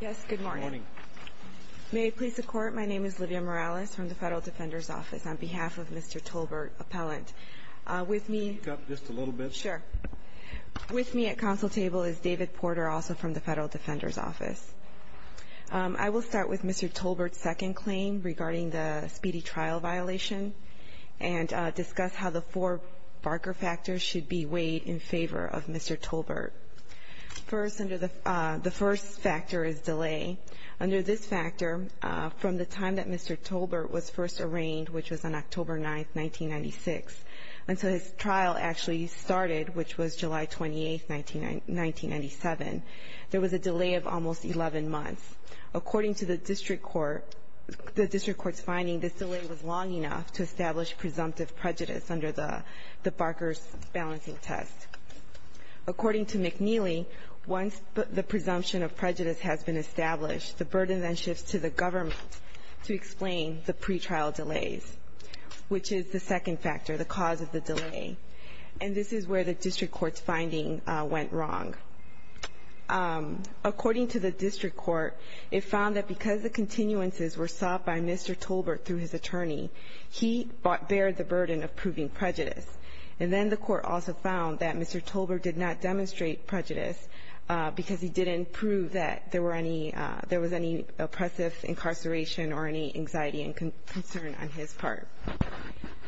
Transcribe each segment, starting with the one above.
Yes, good morning. May it please the court, my name is Livia Morales from the Federal Defender's Office on behalf of Mr. Tolbert, appellant with me just a little bit. Sure, with me at council table is David Porter, also from the Federal Defender's Office. I will start with Mr. Tolbert's second claim regarding the speedy trial violation and discuss how the four Barker factors should be weighed in favor of Mr. Tolbert. First, under the first factor is delay. Under this factor, from the time that Mr. Tolbert was first arraigned, which was on October 9, 1996, until his trial actually started, which was July 28, 1997, there was a delay of almost 11 months. According to the district court, the district court's finding, this delay was long enough to establish presumptive prejudice under the Barker's balancing test. According to McNeely, once the presumption of prejudice has been established, the burden then shifts to the government to explain the pre-trial delays, which is the second factor, the cause of the delay. And this is where the district court's finding went wrong. According to the district court, it found that because the continuances were sought by Mr. Tolbert through his attorney, he bared the burden of proving prejudice. And then the court also found that Mr. Tolbert did not demonstrate prejudice because he didn't prove that there were any – there was any oppressive incarceration or any anxiety and concern on his part.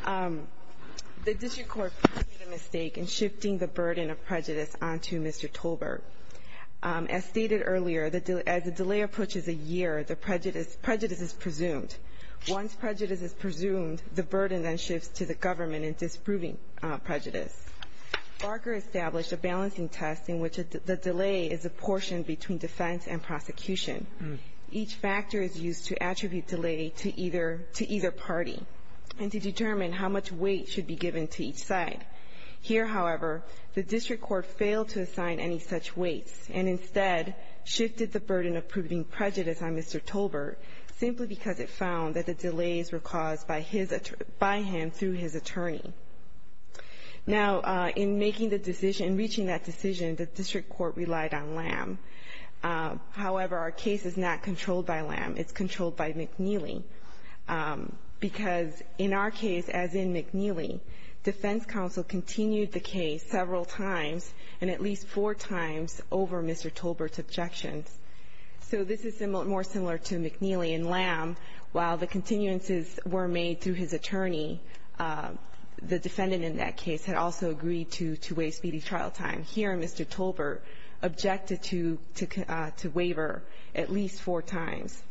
The district court made a mistake in shifting the burden of prejudice onto Mr. Tolbert. As stated earlier, as the delay approaches a year, the prejudice – prejudice is presumed. Once prejudice is presumed, the burden then shifts to the government in disproving prejudice. Barker established a balancing test in which the delay is a portion between defense and prosecution. Each factor is used to attribute delay to either – to either party and to determine how much weight should be given to each side. Here, however, the district court failed to assign any such weights and instead shifted the burden of proving prejudice on Mr. Tolbert simply because it found that the delays were caused by his – by him through his attorney. Now, in making the decision – in reaching that decision, the district court relied on Lamb. However, our case is not controlled by Lamb. It's controlled by McNeely. Because in our case, as in McNeely, defense counsel continued the case several times and at least four times over Mr. Tolbert's objections. So this is more similar to McNeely and Lamb. While the continuances were made through his attorney, the defendant in that case had also agreed to waive speedy trial time. Here, Mr. Tolbert objected to – to waiver at least four times.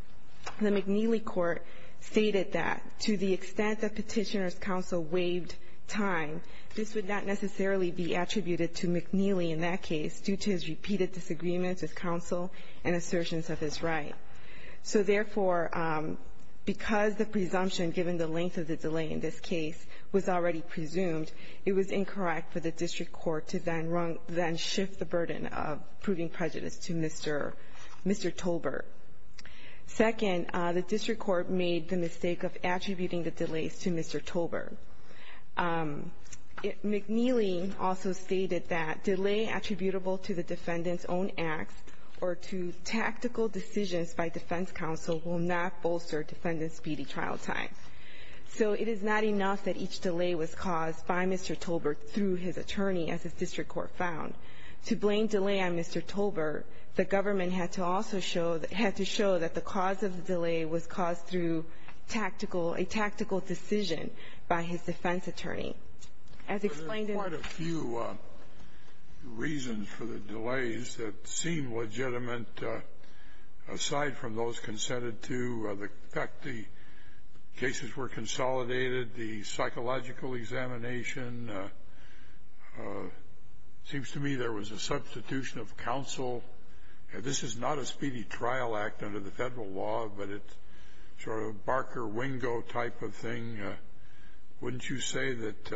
The McNeely court stated that to the extent that Petitioner's counsel waived time, this would not necessarily be attributed to McNeely in that case due to his repeated disagreements with counsel and assertions of his right. So therefore, because the presumption given the length of the delay in this case was already presumed, it was incorrect for the district court to then shift the burden of proving prejudice to Mr. – Mr. Tolbert. Second, the district court made the mistake of attributing the delays to Mr. Tolbert. McNeely also stated that delay attributable to the defendant's own acts or to tactical decisions by defense counsel will not bolster defendant's speedy trial time. So it is not enough that each delay was caused by Mr. Tolbert through his attorney, as the district court found. To blame delay on Mr. Tolbert, the government had to also show – had to show that the cause of the delay was caused through tactical – a tactical decision by his defense attorney. As explained in the – that seemed legitimate aside from those consented to. In fact, the cases were consolidated. The psychological examination seems to me there was a substitution of counsel. This is not a speedy trial act under the Federal law, but it's sort of a Barker-Wingo type of thing. Wouldn't you say that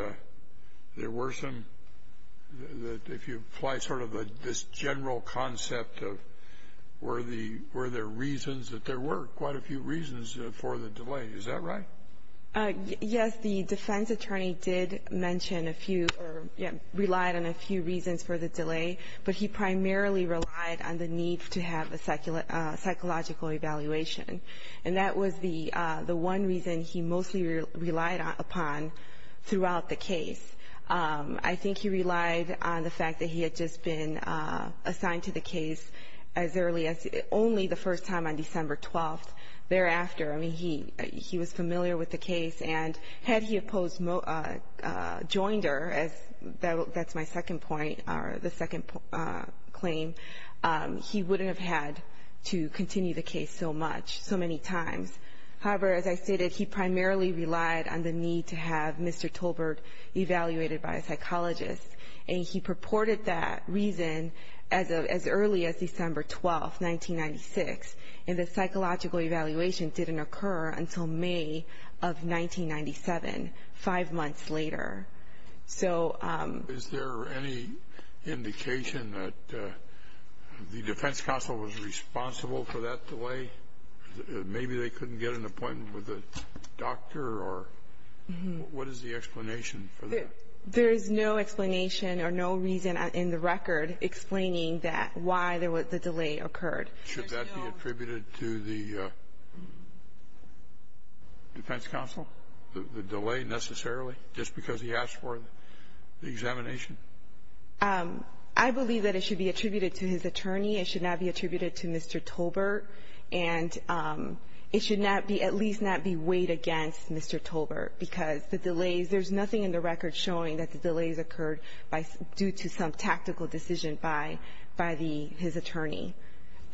there were some – that if you apply sort of a – this general concept of were the – were there reasons that there were quite a few reasons for the delay? Is that right? Yes. The defense attorney did mention a few – relied on a few reasons for the delay, but he primarily relied on the need to have a psychological evaluation. And that was the one reason he mostly relied upon throughout the case. I think he relied on the fact that he had just been assigned to the case as early as – only the first time on December 12th. I mean, he was familiar with the case, and had he opposed – joined her, as – that's my second point, or the second claim, he wouldn't have had to continue the case so much, so many times. However, as I stated, he primarily relied on the need to have Mr. Tolbert evaluated by a psychologist. And he purported that reason as early as December 12th, 1996. And the psychological evaluation didn't occur until May of 1997, five months later. So – Is there any indication that the defense counsel was responsible for that delay? Maybe they couldn't get an appointment with a doctor or – what is the explanation for that? There is no explanation or no reason in the record explaining that – why the delay occurred. Should that be attributed to the defense counsel, the delay necessarily, just because he asked for the examination? I believe that it should be attributed to his attorney. It should not be attributed to Mr. Tolbert. And it should not be – at least not be weighed against Mr. Tolbert, because the delays – there's nothing in the record showing that the delays occurred due to some tactical decision by the – his attorney.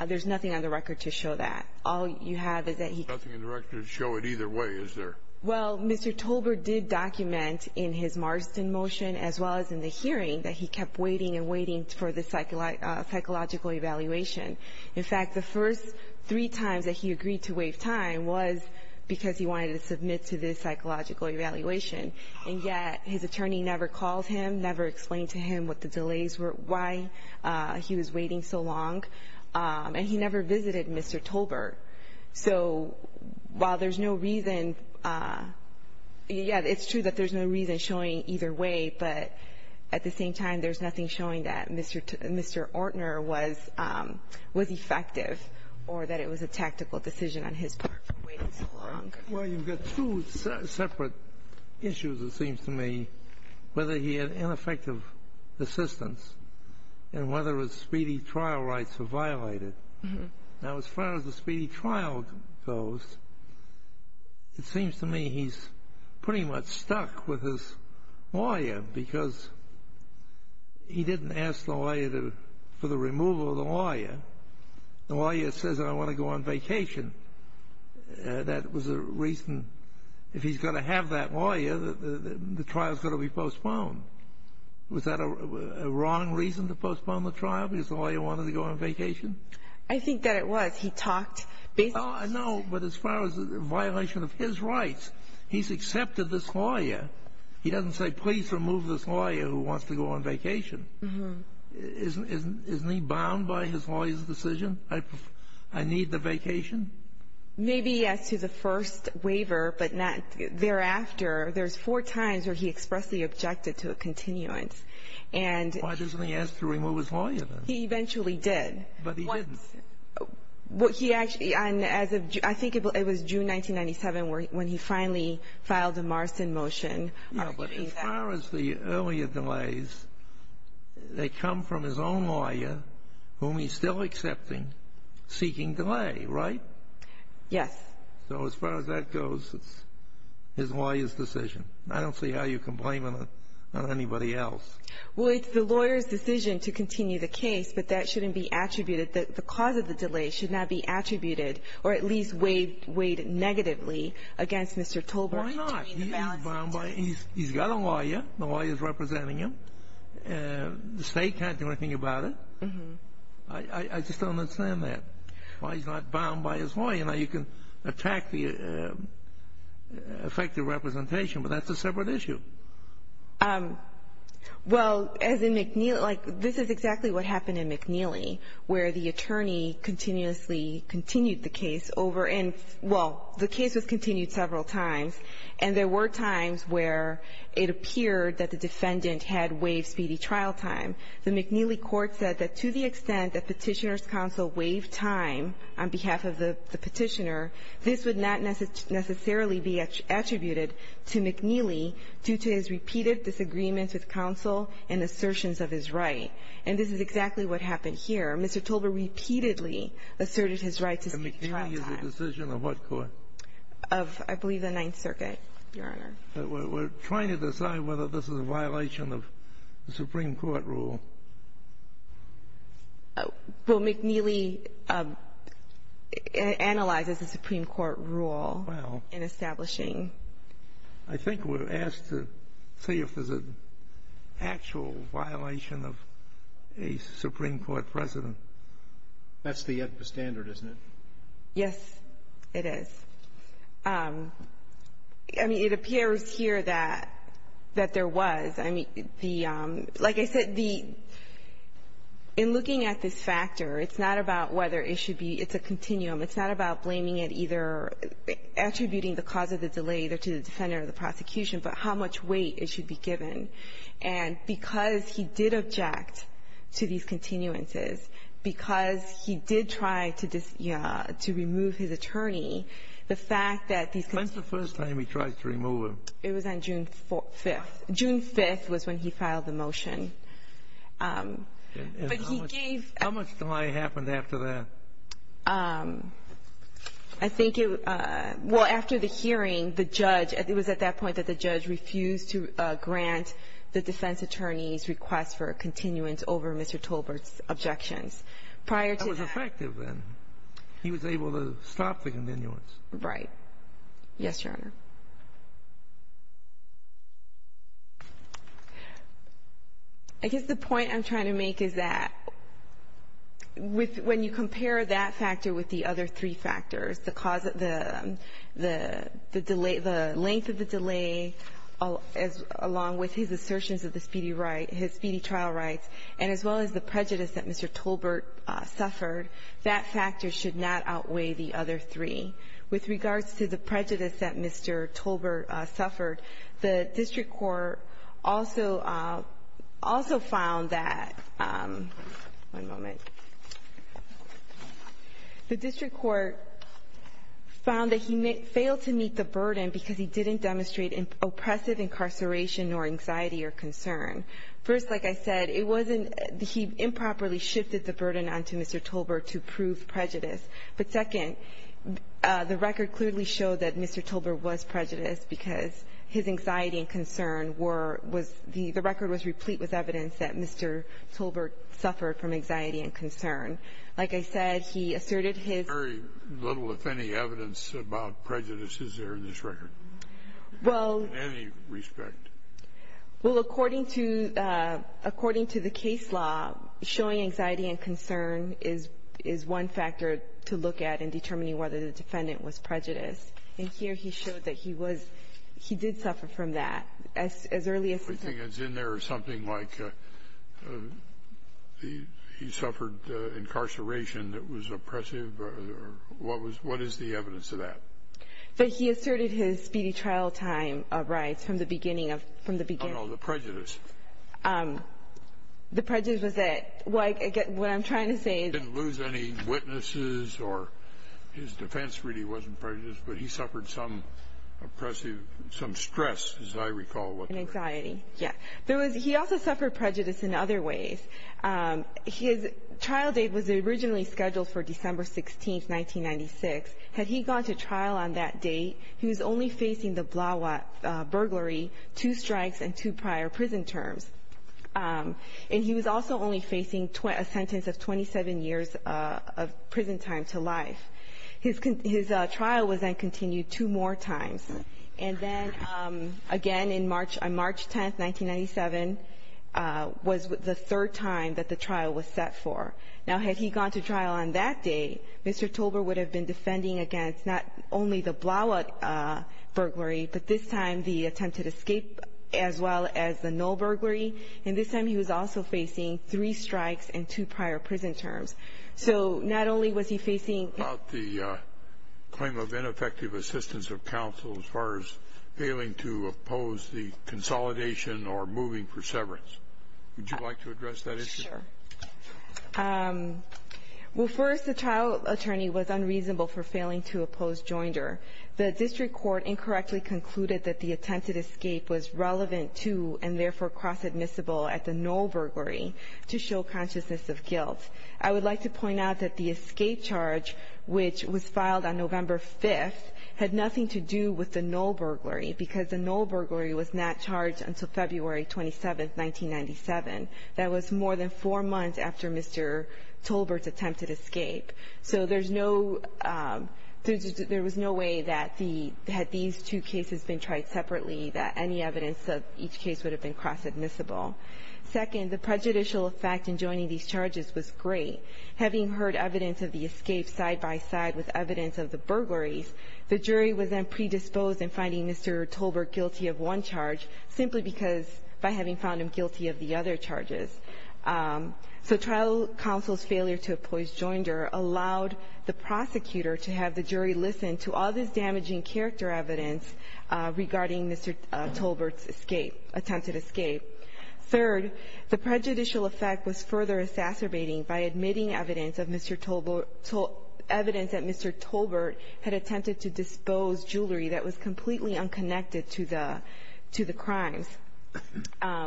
There's nothing on the record to show that. All you have is that he – There's nothing in the record to show it either way, is there? Well, Mr. Tolbert did document in his Marston motion, as well as in the hearing, that he kept waiting and waiting for the psychological evaluation. In fact, the first three times that he agreed to waive time was because he wanted to submit to this psychological evaluation. And yet his attorney never called him, never explained to him what the delays were, why he was waiting so long. And he never visited Mr. Tolbert. So while there's no reason – yeah, it's true that there's no reason showing either way, but at the same time, there's nothing showing that Mr. Ortner was effective or that it was a tactical decision on his part for waiting so long. Well, you've got two separate issues, it seems to me, whether he had ineffective assistance and whether his speedy trial rights were violated. Now, as far as the speedy trial goes, it seems to me he's pretty much stuck with his lawyer because he didn't ask the lawyer for the removal of the lawyer. The lawyer says, I want to go on vacation. That was a reason – if he's going to have that lawyer, the trial's going to be postponed. Was that a wrong reason to postpone the trial because the lawyer wanted to go on vacation? I think that it was. He talked – No, but as far as violation of his rights, he's accepted this lawyer. He doesn't say, please remove this lawyer who wants to go on vacation. Isn't he bound by his lawyer's decision? I need the vacation? Maybe as to the first waiver, but not thereafter. There's four times where he expressly objected to a continuance. And – Why doesn't he ask to remove his lawyer, then? He eventually did. But he didn't. Well, he actually – and as of – I think it was June 1997 when he finally filed a Marston motion arguing that – Yes. So as far as that goes, it's his lawyer's decision. I don't see how you can blame it on anybody else. Well, it's the lawyer's decision to continue the case, but that shouldn't be attributed – the cause of the delay should not be attributed or at least weighed negatively against Mr. Tolbert. Why not? He's bound by – he's got a lawyer. The lawyer's representing him. The state can't do anything about it. I just don't understand that. Well, he's not bound by his lawyer. Now, you can attack the effective representation, but that's a separate issue. Well, as in McNeely – like, this is exactly what happened in McNeely, where the attorney continuously continued the case over and – well, the case was continued several times, and there were times where it appeared that the defendant had waived speedy trial time. The McNeely court said that to the extent that Petitioner's counsel waived time on behalf of the Petitioner, this would not necessarily be attributed to McNeely due to his repeated disagreements with counsel and assertions of his right. And this is exactly what happened here. Mr. Tolbert repeatedly asserted his right to speed trial time. And McNeely is a decision of what court? Of, I believe, the Ninth Circuit, Your Honor. We're trying to decide whether this is a violation of the Supreme Court rule. Well, McNeely analyzes the Supreme Court rule in establishing. I think we're asked to see if there's an actual violation of a Supreme Court precedent. That's the standard, isn't it? Yes, it is. I mean, it appears here that there was. I mean, the – like I said, the – in looking at this factor, it's not about whether it should be – it's a continuum. It's not about blaming it, either attributing the cause of the delay to the defendant or the prosecution, but how much weight it should be given. And because he did object to these continuances, because he did try to remove his attorney, the fact that these continuances – When's the first time he tried to remove him? It was on June 5th. June 5th was when he filed the motion. But he gave – And how much delay happened after that? I think it – well, after the hearing, the judge – it was at that point that the judge refused to grant the defense attorney's request for a continuance over Mr. Tolbert's objections. Prior to that – That was effective, then. He was able to stop the continuance. Right. Yes, Your Honor. I guess the point I'm trying to make is that with – when you compare that factor with the other three factors, the cause of the – the delay – the length of the delay, along with his assertions of the speedy trial rights, and as well as the prejudice that Mr. Tolbert suffered, that factor should not outweigh the other three. With regards to the prejudice that Mr. Tolbert suffered, the district court also – also found that – one moment. The district court found that he failed to meet the burden because he didn't demonstrate oppressive incarceration nor anxiety or concern. First, like I said, it wasn't – he improperly shifted the burden onto Mr. Tolbert to prove prejudice. But second, the record clearly showed that Mr. Tolbert was prejudiced because his anxiety and concern were – was – the record was replete with evidence that Mr. Tolbert suffered from anxiety and concern. Like I said, he asserted his – Very little, if any, evidence about prejudice is there in this record. Well – In any respect. Well, according to – according to the case law, showing anxiety and concern is – is one factor to look at in determining whether the defendant was prejudiced. And here he showed that he was – he did suffer from that. As early as – Everything that's in there is something like he suffered incarceration that was oppressive or what was – what is the evidence of that? But he asserted his speedy trial time of rights from the beginning of – from the beginning. Oh, no, the prejudice. The prejudice was that – well, again, what I'm trying to say is – He didn't lose any witnesses or his defense really wasn't prejudiced, but he suffered some oppressive – some stress, as I recall, was there. Anxiety, yes. There was – he also suffered prejudice in other ways. His trial date was originally scheduled for December 16th, 1996. Had he gone to trial on that date, he was only facing the Blauat burglary, two strikes, and two prior prison terms. And he was also only facing a sentence of 27 years of prison time to life. His trial was then continued two more times. And then, again, in March – on March 10th, 1997, was the third time that the trial was set for. Now, had he gone to trial on that day, Mr. Tolber would have been defending against not only the Blauat burglary, but this time the attempted escape as well as the Null burglary. And this time he was also facing three strikes and two prior prison terms. So not only was he facing – About the claim of ineffective assistance of counsel as far as failing to oppose the consolidation or moving for severance, would you like to address that issue? Sure. Well, first, the trial attorney was unreasonable for failing to oppose Joinder. The district court incorrectly concluded that the attempted escape was relevant to and therefore cross-admissible at the Null burglary to show consciousness of guilt. I would like to point out that the escape charge, which was filed on November 5th, had nothing to do with the Null burglary because the Null burglary was not charged until February 27th, 1997. That was more than four months after Mr. Tolbert's attempted escape. So there's no – there was no way that the – had these two cases been tried separately that any evidence of each case would have been cross-admissible. Second, the prejudicial effect in joining these charges was great. Having heard evidence of the escape side by side with evidence of the burglaries, the jury was then predisposed in finding Mr. Tolbert guilty of one charge simply because – by having found him guilty of the other charges. So trial counsel's failure to oppose Joinder allowed the prosecutor to have the jury listen to all this damaging character evidence regarding Mr. Tolbert's escape – attempted escape. Third, the prejudicial effect was further exacerbating by admitting evidence of Mr. Tolbert –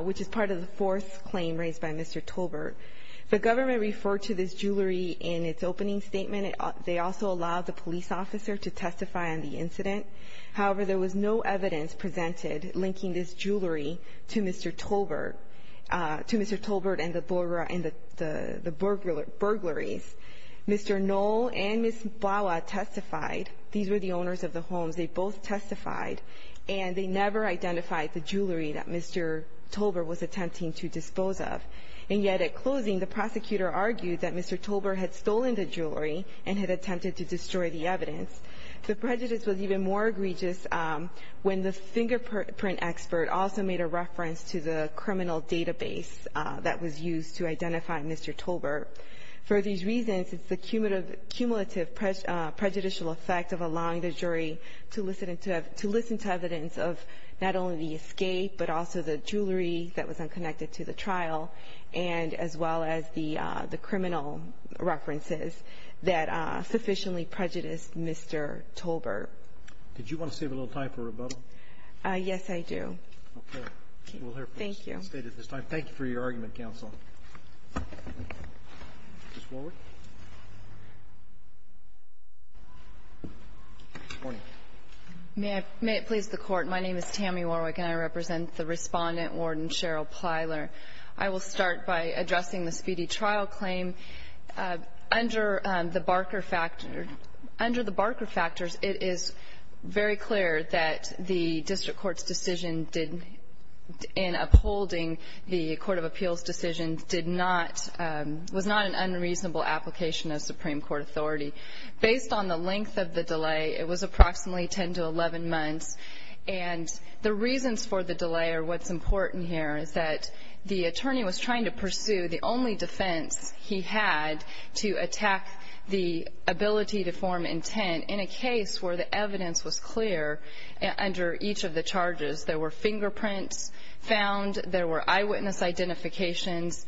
which is part of the fourth claim raised by Mr. Tolbert. The government referred to this jewelry in its opening statement. They also allowed the police officer to testify on the incident. However, there was no evidence presented linking this jewelry to Mr. Tolbert – to Mr. Tolbert and the burglar – and the burglaries. Mr. Null and Ms. Bawa testified. These were the owners of the homes. They both testified, and they never identified the jewelry that Mr. Tolbert was attempting to dispose of. And yet at closing, the prosecutor argued that Mr. Tolbert had stolen the jewelry and had attempted to destroy the evidence. The prejudice was even more egregious when the fingerprint expert also made a reference to the criminal database that was used to identify Mr. Tolbert. For these reasons, it's the cumulative prejudicial effect of allowing the jury to listen to evidence of not only the escape, but also the jewelry that was unconnected to the trial, and as well as the criminal references that sufficiently prejudiced Mr. Tolbert. Did you want to save a little time for rebuttal? Yes, I do. Okay. We'll hear from the State at this time. Thank you. Thank you for your argument, counsel. Ms. Warwick. Good morning. May it please the Court. My name is Tammy Warwick, and I represent the Respondent, Warden Cheryl Plyler. I will start by addressing the speedy trial claim. Under the Barker factors, it is very clear that the district court's decision in upholding the Court of Appeals decision did not, was not an unreasonable application of Supreme Court authority. Based on the length of the delay, it was approximately 10 to 11 months, and the reasons for the delay are what's important here, is that the attorney was trying to pursue the only defense he had to attack the ability to form intent in a case where the evidence was clear under each of the charges. There were fingerprints found. There were eyewitness identifications.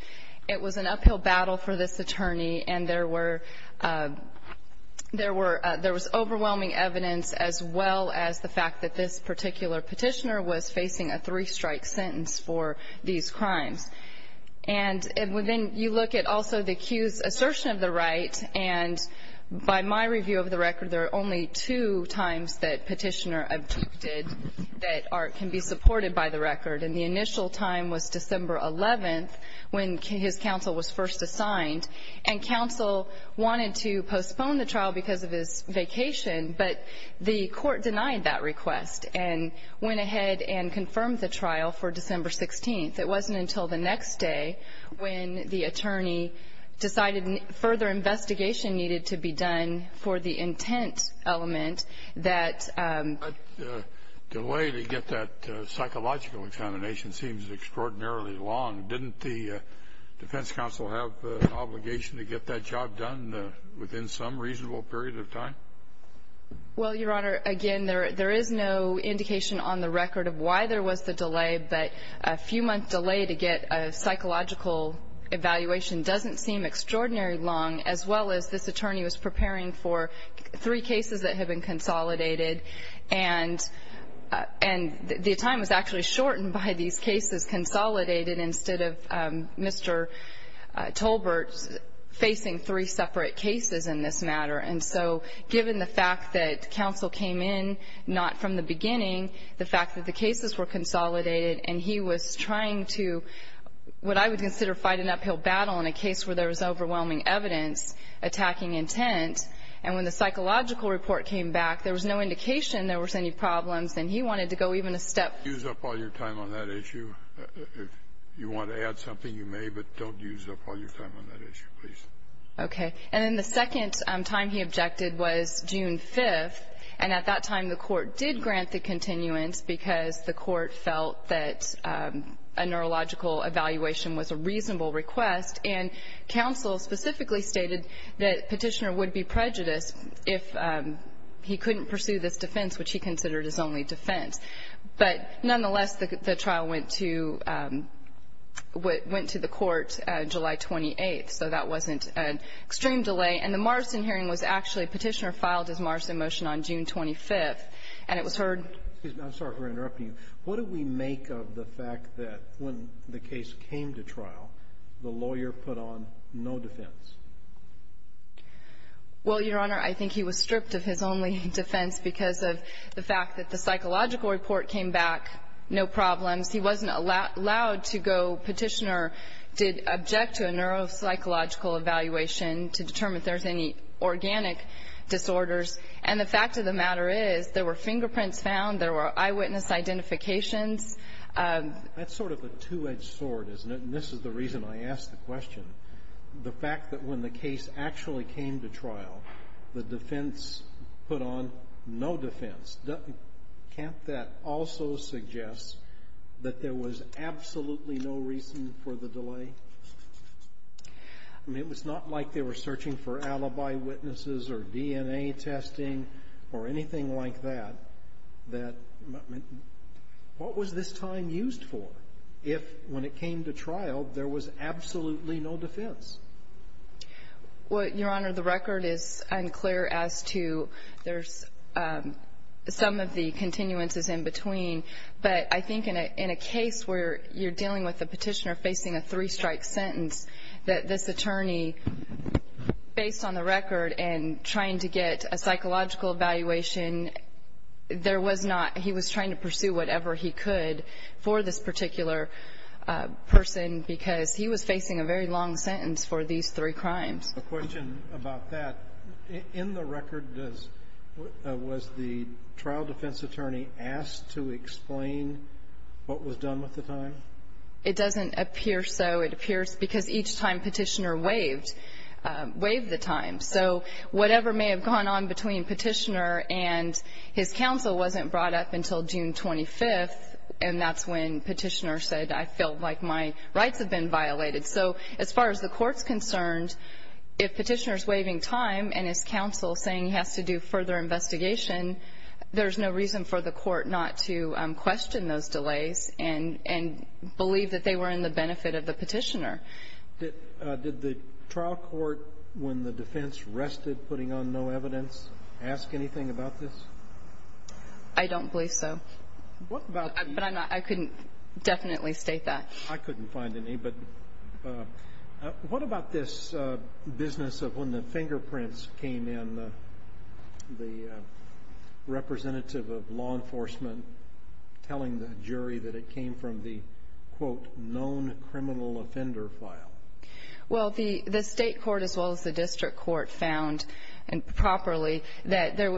It was an uphill battle for this attorney, and there was overwhelming evidence, as well as the fact that this particular petitioner was facing a three-strike sentence for these crimes. And then you look at also the accused's assertion of the right, and by my review of the record, there are only two times that petitioner objected that art can be supported by the record. And the initial time was December 11th, when his counsel was first assigned, and counsel wanted to postpone the trial because of his vacation, but the court denied that request and went ahead and confirmed the trial for December 16th. It wasn't until the next day when the attorney decided further investigation needed to be done for the intent element that the delay to get that psychological examination seems extraordinarily long. Didn't the defense counsel have an obligation to get that job done within some reasonable period of time? Well, Your Honor, again, there is no indication on the record of why there was the delay, but a few-month delay to get a psychological evaluation doesn't seem extraordinarily long, as well as this attorney was preparing for three cases that had been consolidated, and the time was actually shortened by these cases consolidated instead of Mr. Tolbert facing three separate cases in this matter. And so given the fact that counsel came in not from the beginning, the fact that the cases were consolidated and he was trying to what I would consider fight an uphill battle in a case where there was overwhelming evidence attacking intent, and when the psychological report came back, there was no indication there was any problems, and he wanted to go even a step further. Use up all your time on that issue. If you want to add something, you may, but don't use up all your time on that issue, please. Okay. And then the second time he objected was June 5th, and at that time the court did grant the continuance because the court felt that a neurological evaluation was a reasonable request, and counsel specifically stated that Petitioner would be prejudiced if he couldn't pursue this defense, which he considered his only defense. But nonetheless, the trial went to the court July 28th, so that wasn't an extreme delay, and the Morrison hearing was actually Petitioner filed his Morrison motion on June 25th, and it was heard. I'm sorry for interrupting you. What do we make of the fact that when the case came to trial, the lawyer put on no defense? Well, Your Honor, I think he was stripped of his only defense because of the fact that the psychological report came back, no problems. He wasn't allowed to go Petitioner did object to a neuropsychological evaluation to determine if there's any organic disorders. And the fact of the matter is there were fingerprints found, there were eyewitness identifications. That's sort of a two-edged sword, isn't it? And this is the reason I asked the question. The fact that when the case actually came to trial, the defense put on no defense, can't that also suggest that there was absolutely no reason for the delay? I mean, it was not like they were searching for alibi witnesses or DNA testing or anything like that. What was this time used for if, when it came to trial, there was absolutely no defense? Well, Your Honor, the record is unclear as to there's some of the continuances in between, but I think in a case where you're dealing with a Petitioner facing a three-strike sentence, that this attorney, based on the record and trying to get a psychological evaluation, there was not he was trying to pursue whatever he could for this particular person because he was facing a very long sentence for these three crimes. A question about that. In the record, was the trial defense attorney asked to explain what was done with the time? It doesn't appear so. It appears because each time Petitioner waived the time. So whatever may have gone on between Petitioner and his counsel wasn't brought up until June 25th, and that's when Petitioner said, I feel like my rights have been violated. So as far as the Court's concerned, if Petitioner's waiving time and his counsel saying he has to do further investigation, there's no reason for the Court not to believe that they were in the benefit of the Petitioner. Did the trial court, when the defense rested putting on no evidence, ask anything about this? I don't believe so. But I couldn't definitely state that. I couldn't find any. But what about this business of when the fingerprints came in, the representative of law enforcement telling the jury that it came from the, quote, known criminal offender file? Well, the state court as well as the district court found properly that it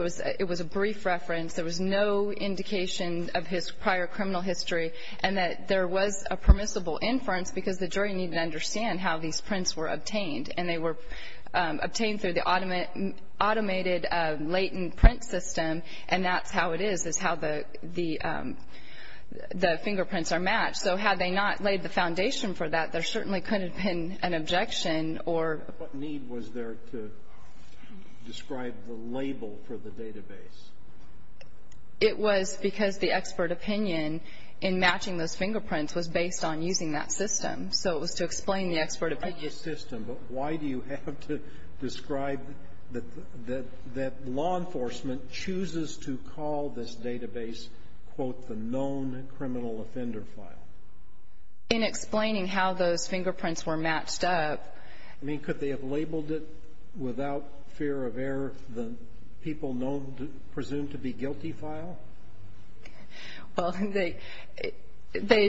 was a brief reference, there was no indication of his prior criminal history, and that there was a permissible inference because the jury needed to understand how these prints were obtained. And they were obtained through the automated latent print system, and that's how it is, is how the fingerprints are matched. So had they not laid the foundation for that, there certainly couldn't have been an objection or ---- What need was there to describe the label for the database? It was because the expert opinion in matching those fingerprints was based on using that system. So it was to explain the expert opinion. But why do you have to describe that law enforcement chooses to call this database, quote, the known criminal offender file? In explaining how those fingerprints were matched up. I mean, could they have labeled it without fear of error, the people presumed to be guilty file? Well, they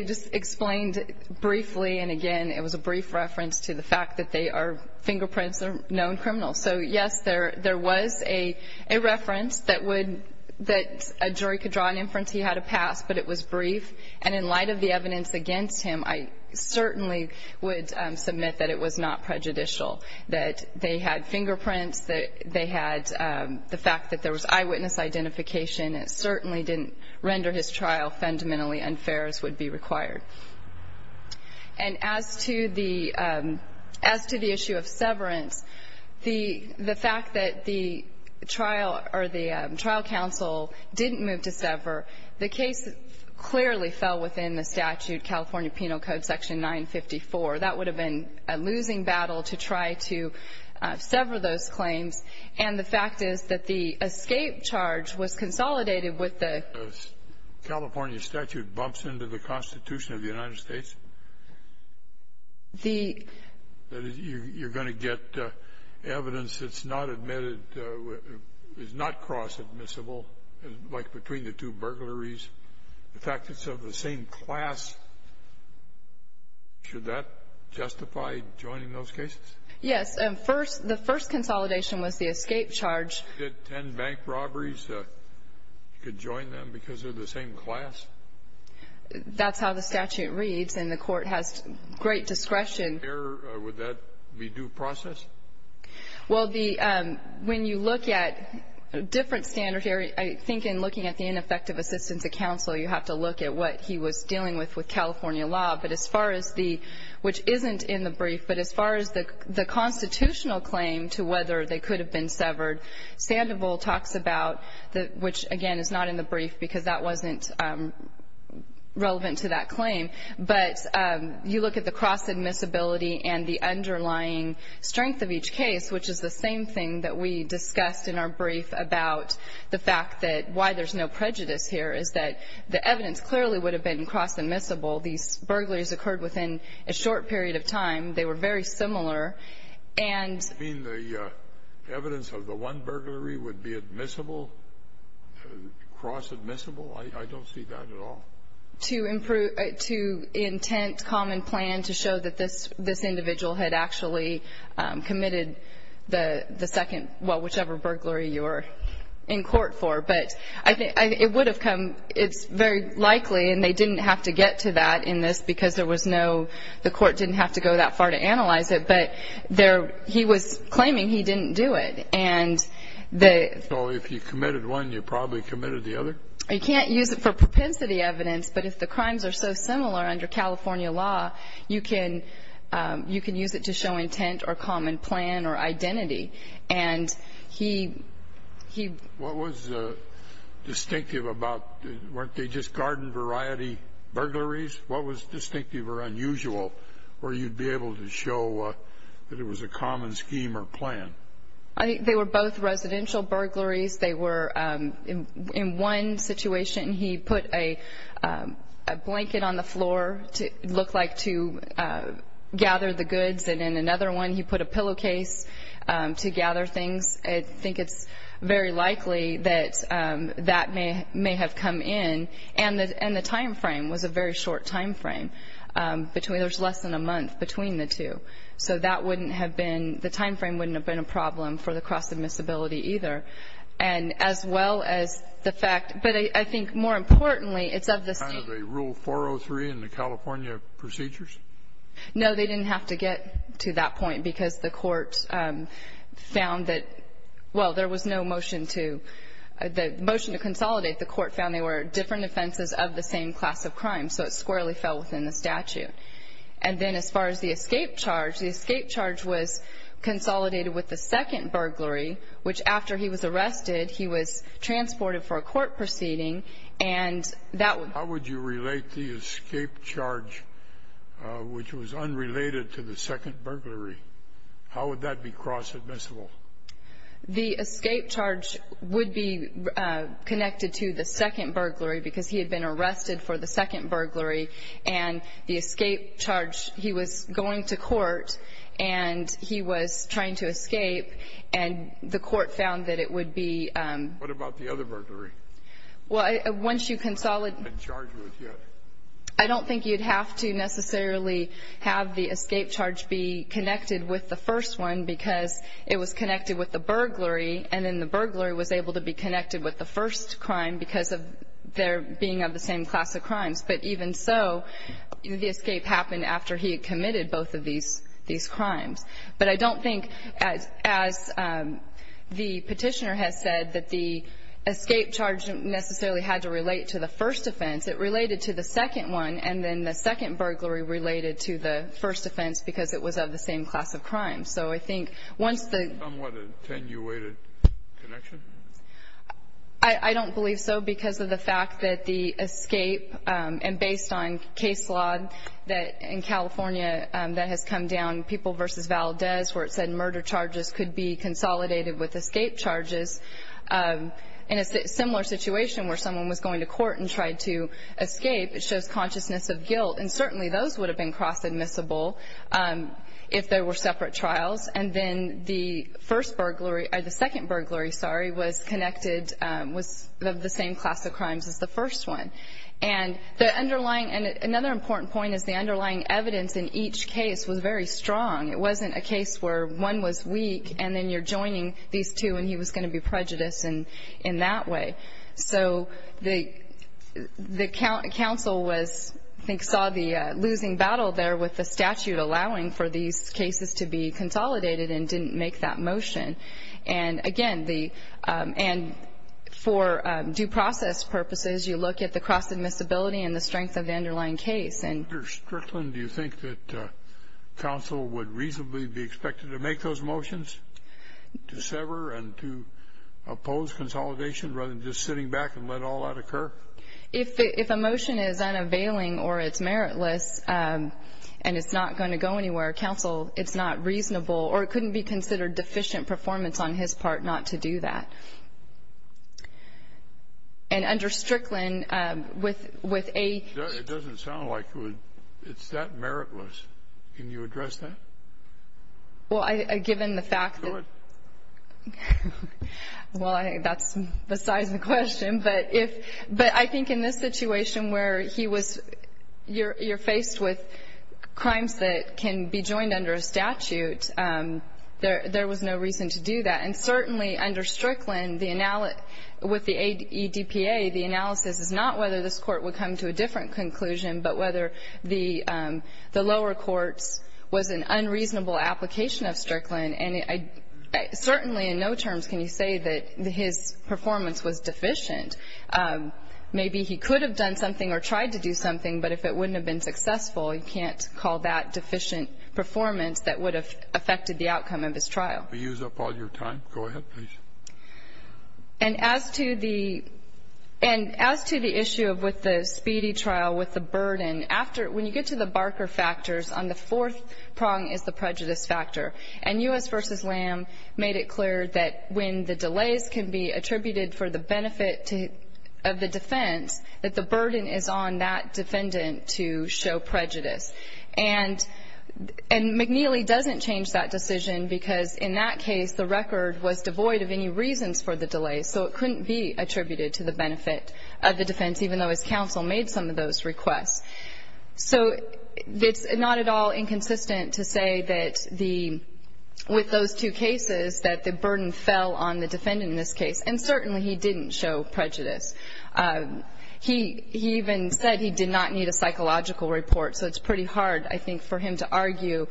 just explained briefly, and again, it was a brief reference to the fact that fingerprints are known criminals. So, yes, there was a reference that a jury could draw an inference he had to pass, but it was brief. And in light of the evidence against him, I certainly would submit that it was not prejudicial, that they had fingerprints, that they had the fact that there was eyewitness identification. It certainly didn't render his trial fundamentally unfair as would be required. And as to the issue of severance, the fact that the trial or the trial counsel didn't move to sever, the case clearly fell within the statute, California Penal Code, Section 954. That would have been a losing battle to try to sever those claims. And the fact is that the escape charge was consolidated with the California statute bumps into the Constitution of the United States. You're going to get evidence that's not admitted, is not cross-admissible, like between the two burglaries. In fact, it's of the same class. Should that justify joining those cases? Yes. The first consolidation was the escape charge. If you get ten bank robberies, you could join them because they're the same class? That's how the statute reads, and the Court has great discretion. Would that be due process? Well, the ‑‑ when you look at a different standard here, I think in looking at the ineffective assistance of counsel, you have to look at what he was dealing with with California law. But as far as the ‑‑ which isn't in the brief, but as far as the constitutional claim to whether they could have been severed, Sandoval talks about, which, again, is not in the brief because that wasn't relevant to that claim, but you look at the cross‑admissibility and the underlying strength of each case, which is the same thing that we discussed in our brief about the fact that why there's no prejudice here is that the evidence clearly would have been cross‑admissible. These burglaries occurred within a short period of time. They were very similar. And ‑‑ You mean the evidence of the one burglary would be admissible, cross‑admissible? I don't see that at all. To intent common plan to show that this individual had actually committed the second ‑‑ well, whichever burglary you're in court for. But it would have come ‑‑ it's very likely, and they didn't have to get to that in this because there was no ‑‑ the court didn't have to go that far to analyze it, but he was claiming he didn't do it. And the ‑‑ So if you committed one, you probably committed the other? You can't use it for propensity evidence, but if the crimes are so similar under California law, you can use it to show intent or common plan or identity. And he ‑‑ What was distinctive about ‑‑ weren't they just garden variety burglaries? What was distinctive or unusual where you'd be able to show that it was a common scheme or plan? I think they were both residential burglaries. They were in one situation he put a blanket on the floor to look like to gather the goods, and in another one he put a pillowcase to gather things. I think it's very likely that that may have come in. And the time frame was a very short time frame. There's less than a month between the two. So that wouldn't have been ‑‑ the time frame wouldn't have been a problem for the cross‑admissibility either. And as well as the fact ‑‑ but I think more importantly, it's of the state. Kind of a rule 403 in the California procedures? No, they didn't have to get to that point because the court found that, well, there was no motion to ‑‑ the motion to consolidate the court found they were different offenses of the same class of crime. So it squarely fell within the statute. And then as far as the escape charge, the escape charge was consolidated with the second burglary, which after he was arrested, he was transported for a court proceeding, and that would ‑‑ How would you relate the escape charge, which was unrelated to the second burglary, how would that be cross‑admissible? The escape charge would be connected to the second burglary because he had been arrested for the second burglary, and the escape charge, he was going to court, and he was trying to escape, and the court found that it would be ‑‑ What about the other burglary? Well, once you consolidate ‑‑ I haven't been charged with it yet. I don't think you would have to necessarily have the escape charge be connected with the first one because it was connected with the burglary, and then the burglary was able to be connected with the first crime because of their being of the same class of crimes. But even so, the escape happened after he had committed both of these crimes. But I don't think, as the petitioner has said, that the escape charge necessarily had to relate to the first offense. It related to the second one, and then the second burglary related to the first class of crimes. So I think once the ‑‑ Somewhat attenuated connection? I don't believe so because of the fact that the escape, and based on case law in California that has come down, People v. Valdez, where it said murder charges could be consolidated with escape charges, in a similar situation where someone was going to court and tried to escape, it shows consciousness of guilt. And certainly those would have been cross‑admissible if there were separate trials. And then the first burglary ‑‑ or the second burglary, sorry, was connected with the same class of crimes as the first one. And the underlying ‑‑ and another important point is the underlying evidence in each case was very strong. It wasn't a case where one was weak and then you're joining these two and he was going to be prejudiced in that way. So the council was ‑‑ I think saw the losing battle there with the statute allowing for these cases to be consolidated and didn't make that motion. And, again, the ‑‑ and for due process purposes, you look at the cross‑admissibility and the strength of the underlying case. Dr. Strickland, do you think that council would reasonably be expected to make those motions, to sever and to oppose consolidation rather than just sitting back and let all that occur? If a motion is unavailing or it's meritless and it's not going to go anywhere, council, it's not reasonable or it couldn't be considered deficient performance on his part not to do that. And under Strickland, with a ‑‑ It doesn't sound like it would ‑‑ it's that meritless. Can you address that? Well, given the fact that ‑‑ Go ahead. Well, I think that's besides the question. But if ‑‑ but I think in this situation where he was ‑‑ you're faced with crimes that can be joined under a statute, there was no reason to do that. And certainly under Strickland, with the ADPA, the analysis is not whether this court would come to a different conclusion, but whether the lower courts was an unreasonable application of Strickland. And certainly in no terms can you say that his performance was deficient. Maybe he could have done something or tried to do something, but if it wouldn't have been successful, you can't call that deficient performance that would have affected the outcome of his trial. Could you use up all your time? Go ahead, please. And as to the issue of with the speedy trial, with the burden, when you get to the Barker factors, on the fourth prong is the prejudice factor. And U.S. v. Lamb made it clear that when the delays can be attributed for the benefit of the defense, that the burden is on that defendant to show prejudice. And McNeely doesn't change that decision because in that case, the record was devoid of any reasons for the delays, so it couldn't be attributed to the benefit of the defense, even though his counsel made some of those requests. So it's not at all inconsistent to say that with those two cases, that the burden fell on the defendant in this case. And certainly he didn't show prejudice. He even said he did not need a psychological report, so it's pretty hard, I think, for him to argue.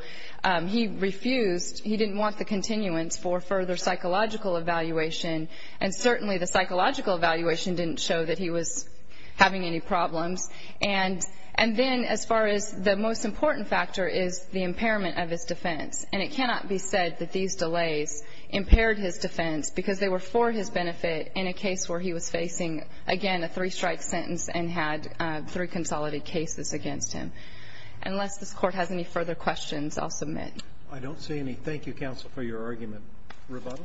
He refused. He didn't want the continuance for further psychological evaluation. And certainly the psychological evaluation didn't show that he was having any problems. And then as far as the most important factor is the impairment of his defense. And it cannot be said that these delays impaired his defense because they were for his benefit in a case where he was facing, again, a three-strike sentence and had three consolidated cases against him. Unless this Court has any further questions, I'll submit. I don't see any. Thank you, counsel, for your argument. Roberta.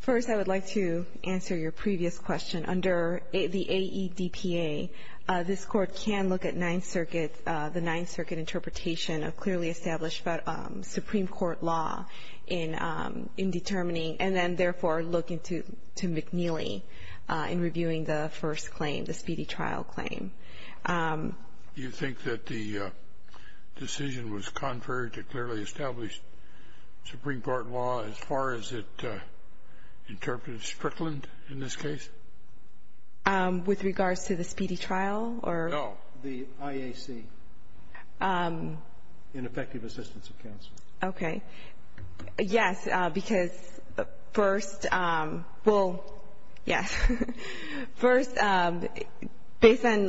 First, I would like to answer your previous question. Under the AEDPA, this Court can look at Ninth Circuit, the Ninth Circuit interpretation of clearly established Supreme Court law in determining and then therefore look into McNeely in reviewing the first claim, the Speedy Trial claim. Do you think that the decision was contrary to clearly established Supreme Court law as far as it interpreted Strickland in this case? With regards to the Speedy Trial? No, the IAC, Ineffective Assistance of Counsel. Okay. Yes, because first, well, yes. First, based on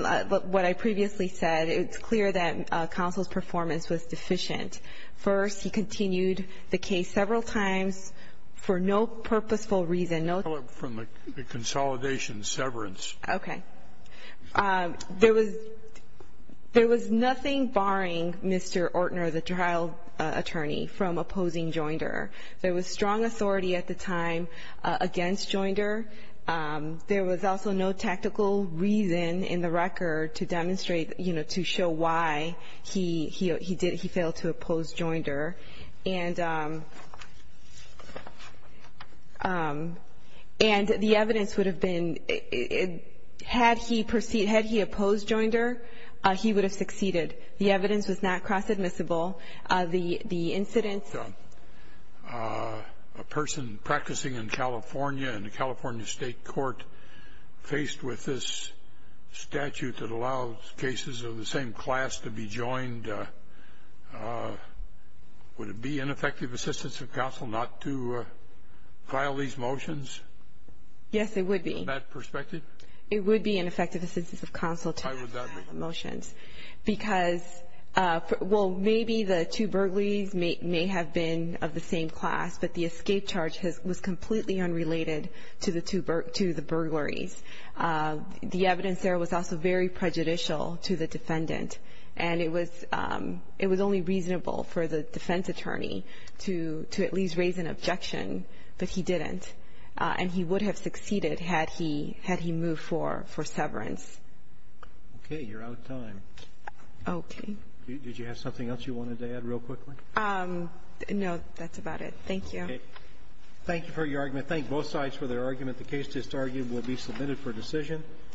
what I previously said, it's clear that counsel's performance was deficient. First, he continued the case several times for no purposeful reason, no ---- From the consolidation severance. Okay. There was nothing barring Mr. Ortner, the trial attorney, from opposing Joinder. There was strong authority at the time against Joinder. There was also no tactical reason in the record to demonstrate, you know, to show why he failed to oppose Joinder. And the evidence would have been, had he opposed Joinder, he would have succeeded. The evidence was not cross-admissible. The incident ---- A person practicing in California in the California State Court faced with this statute that allows cases of the same class to be joined. Would it be ineffective assistance of counsel not to file these motions? Yes, it would be. From that perspective? It would be ineffective assistance of counsel to not file the motions. Why would that be? Because, well, maybe the two burglaries may have been of the same class, but the escape charge was completely unrelated to the burglaries. The evidence there was also very prejudicial to the defendant, and it was only reasonable for the defense attorney to at least raise an objection, but he didn't. And he would have succeeded had he moved for severance. Okay. You're out of time. Okay. Did you have something else you wanted to add real quickly? No. That's about it. Thank you. Okay. Thank you for your argument. Thank both sides for their argument. The case is argued and will be submitted for decision.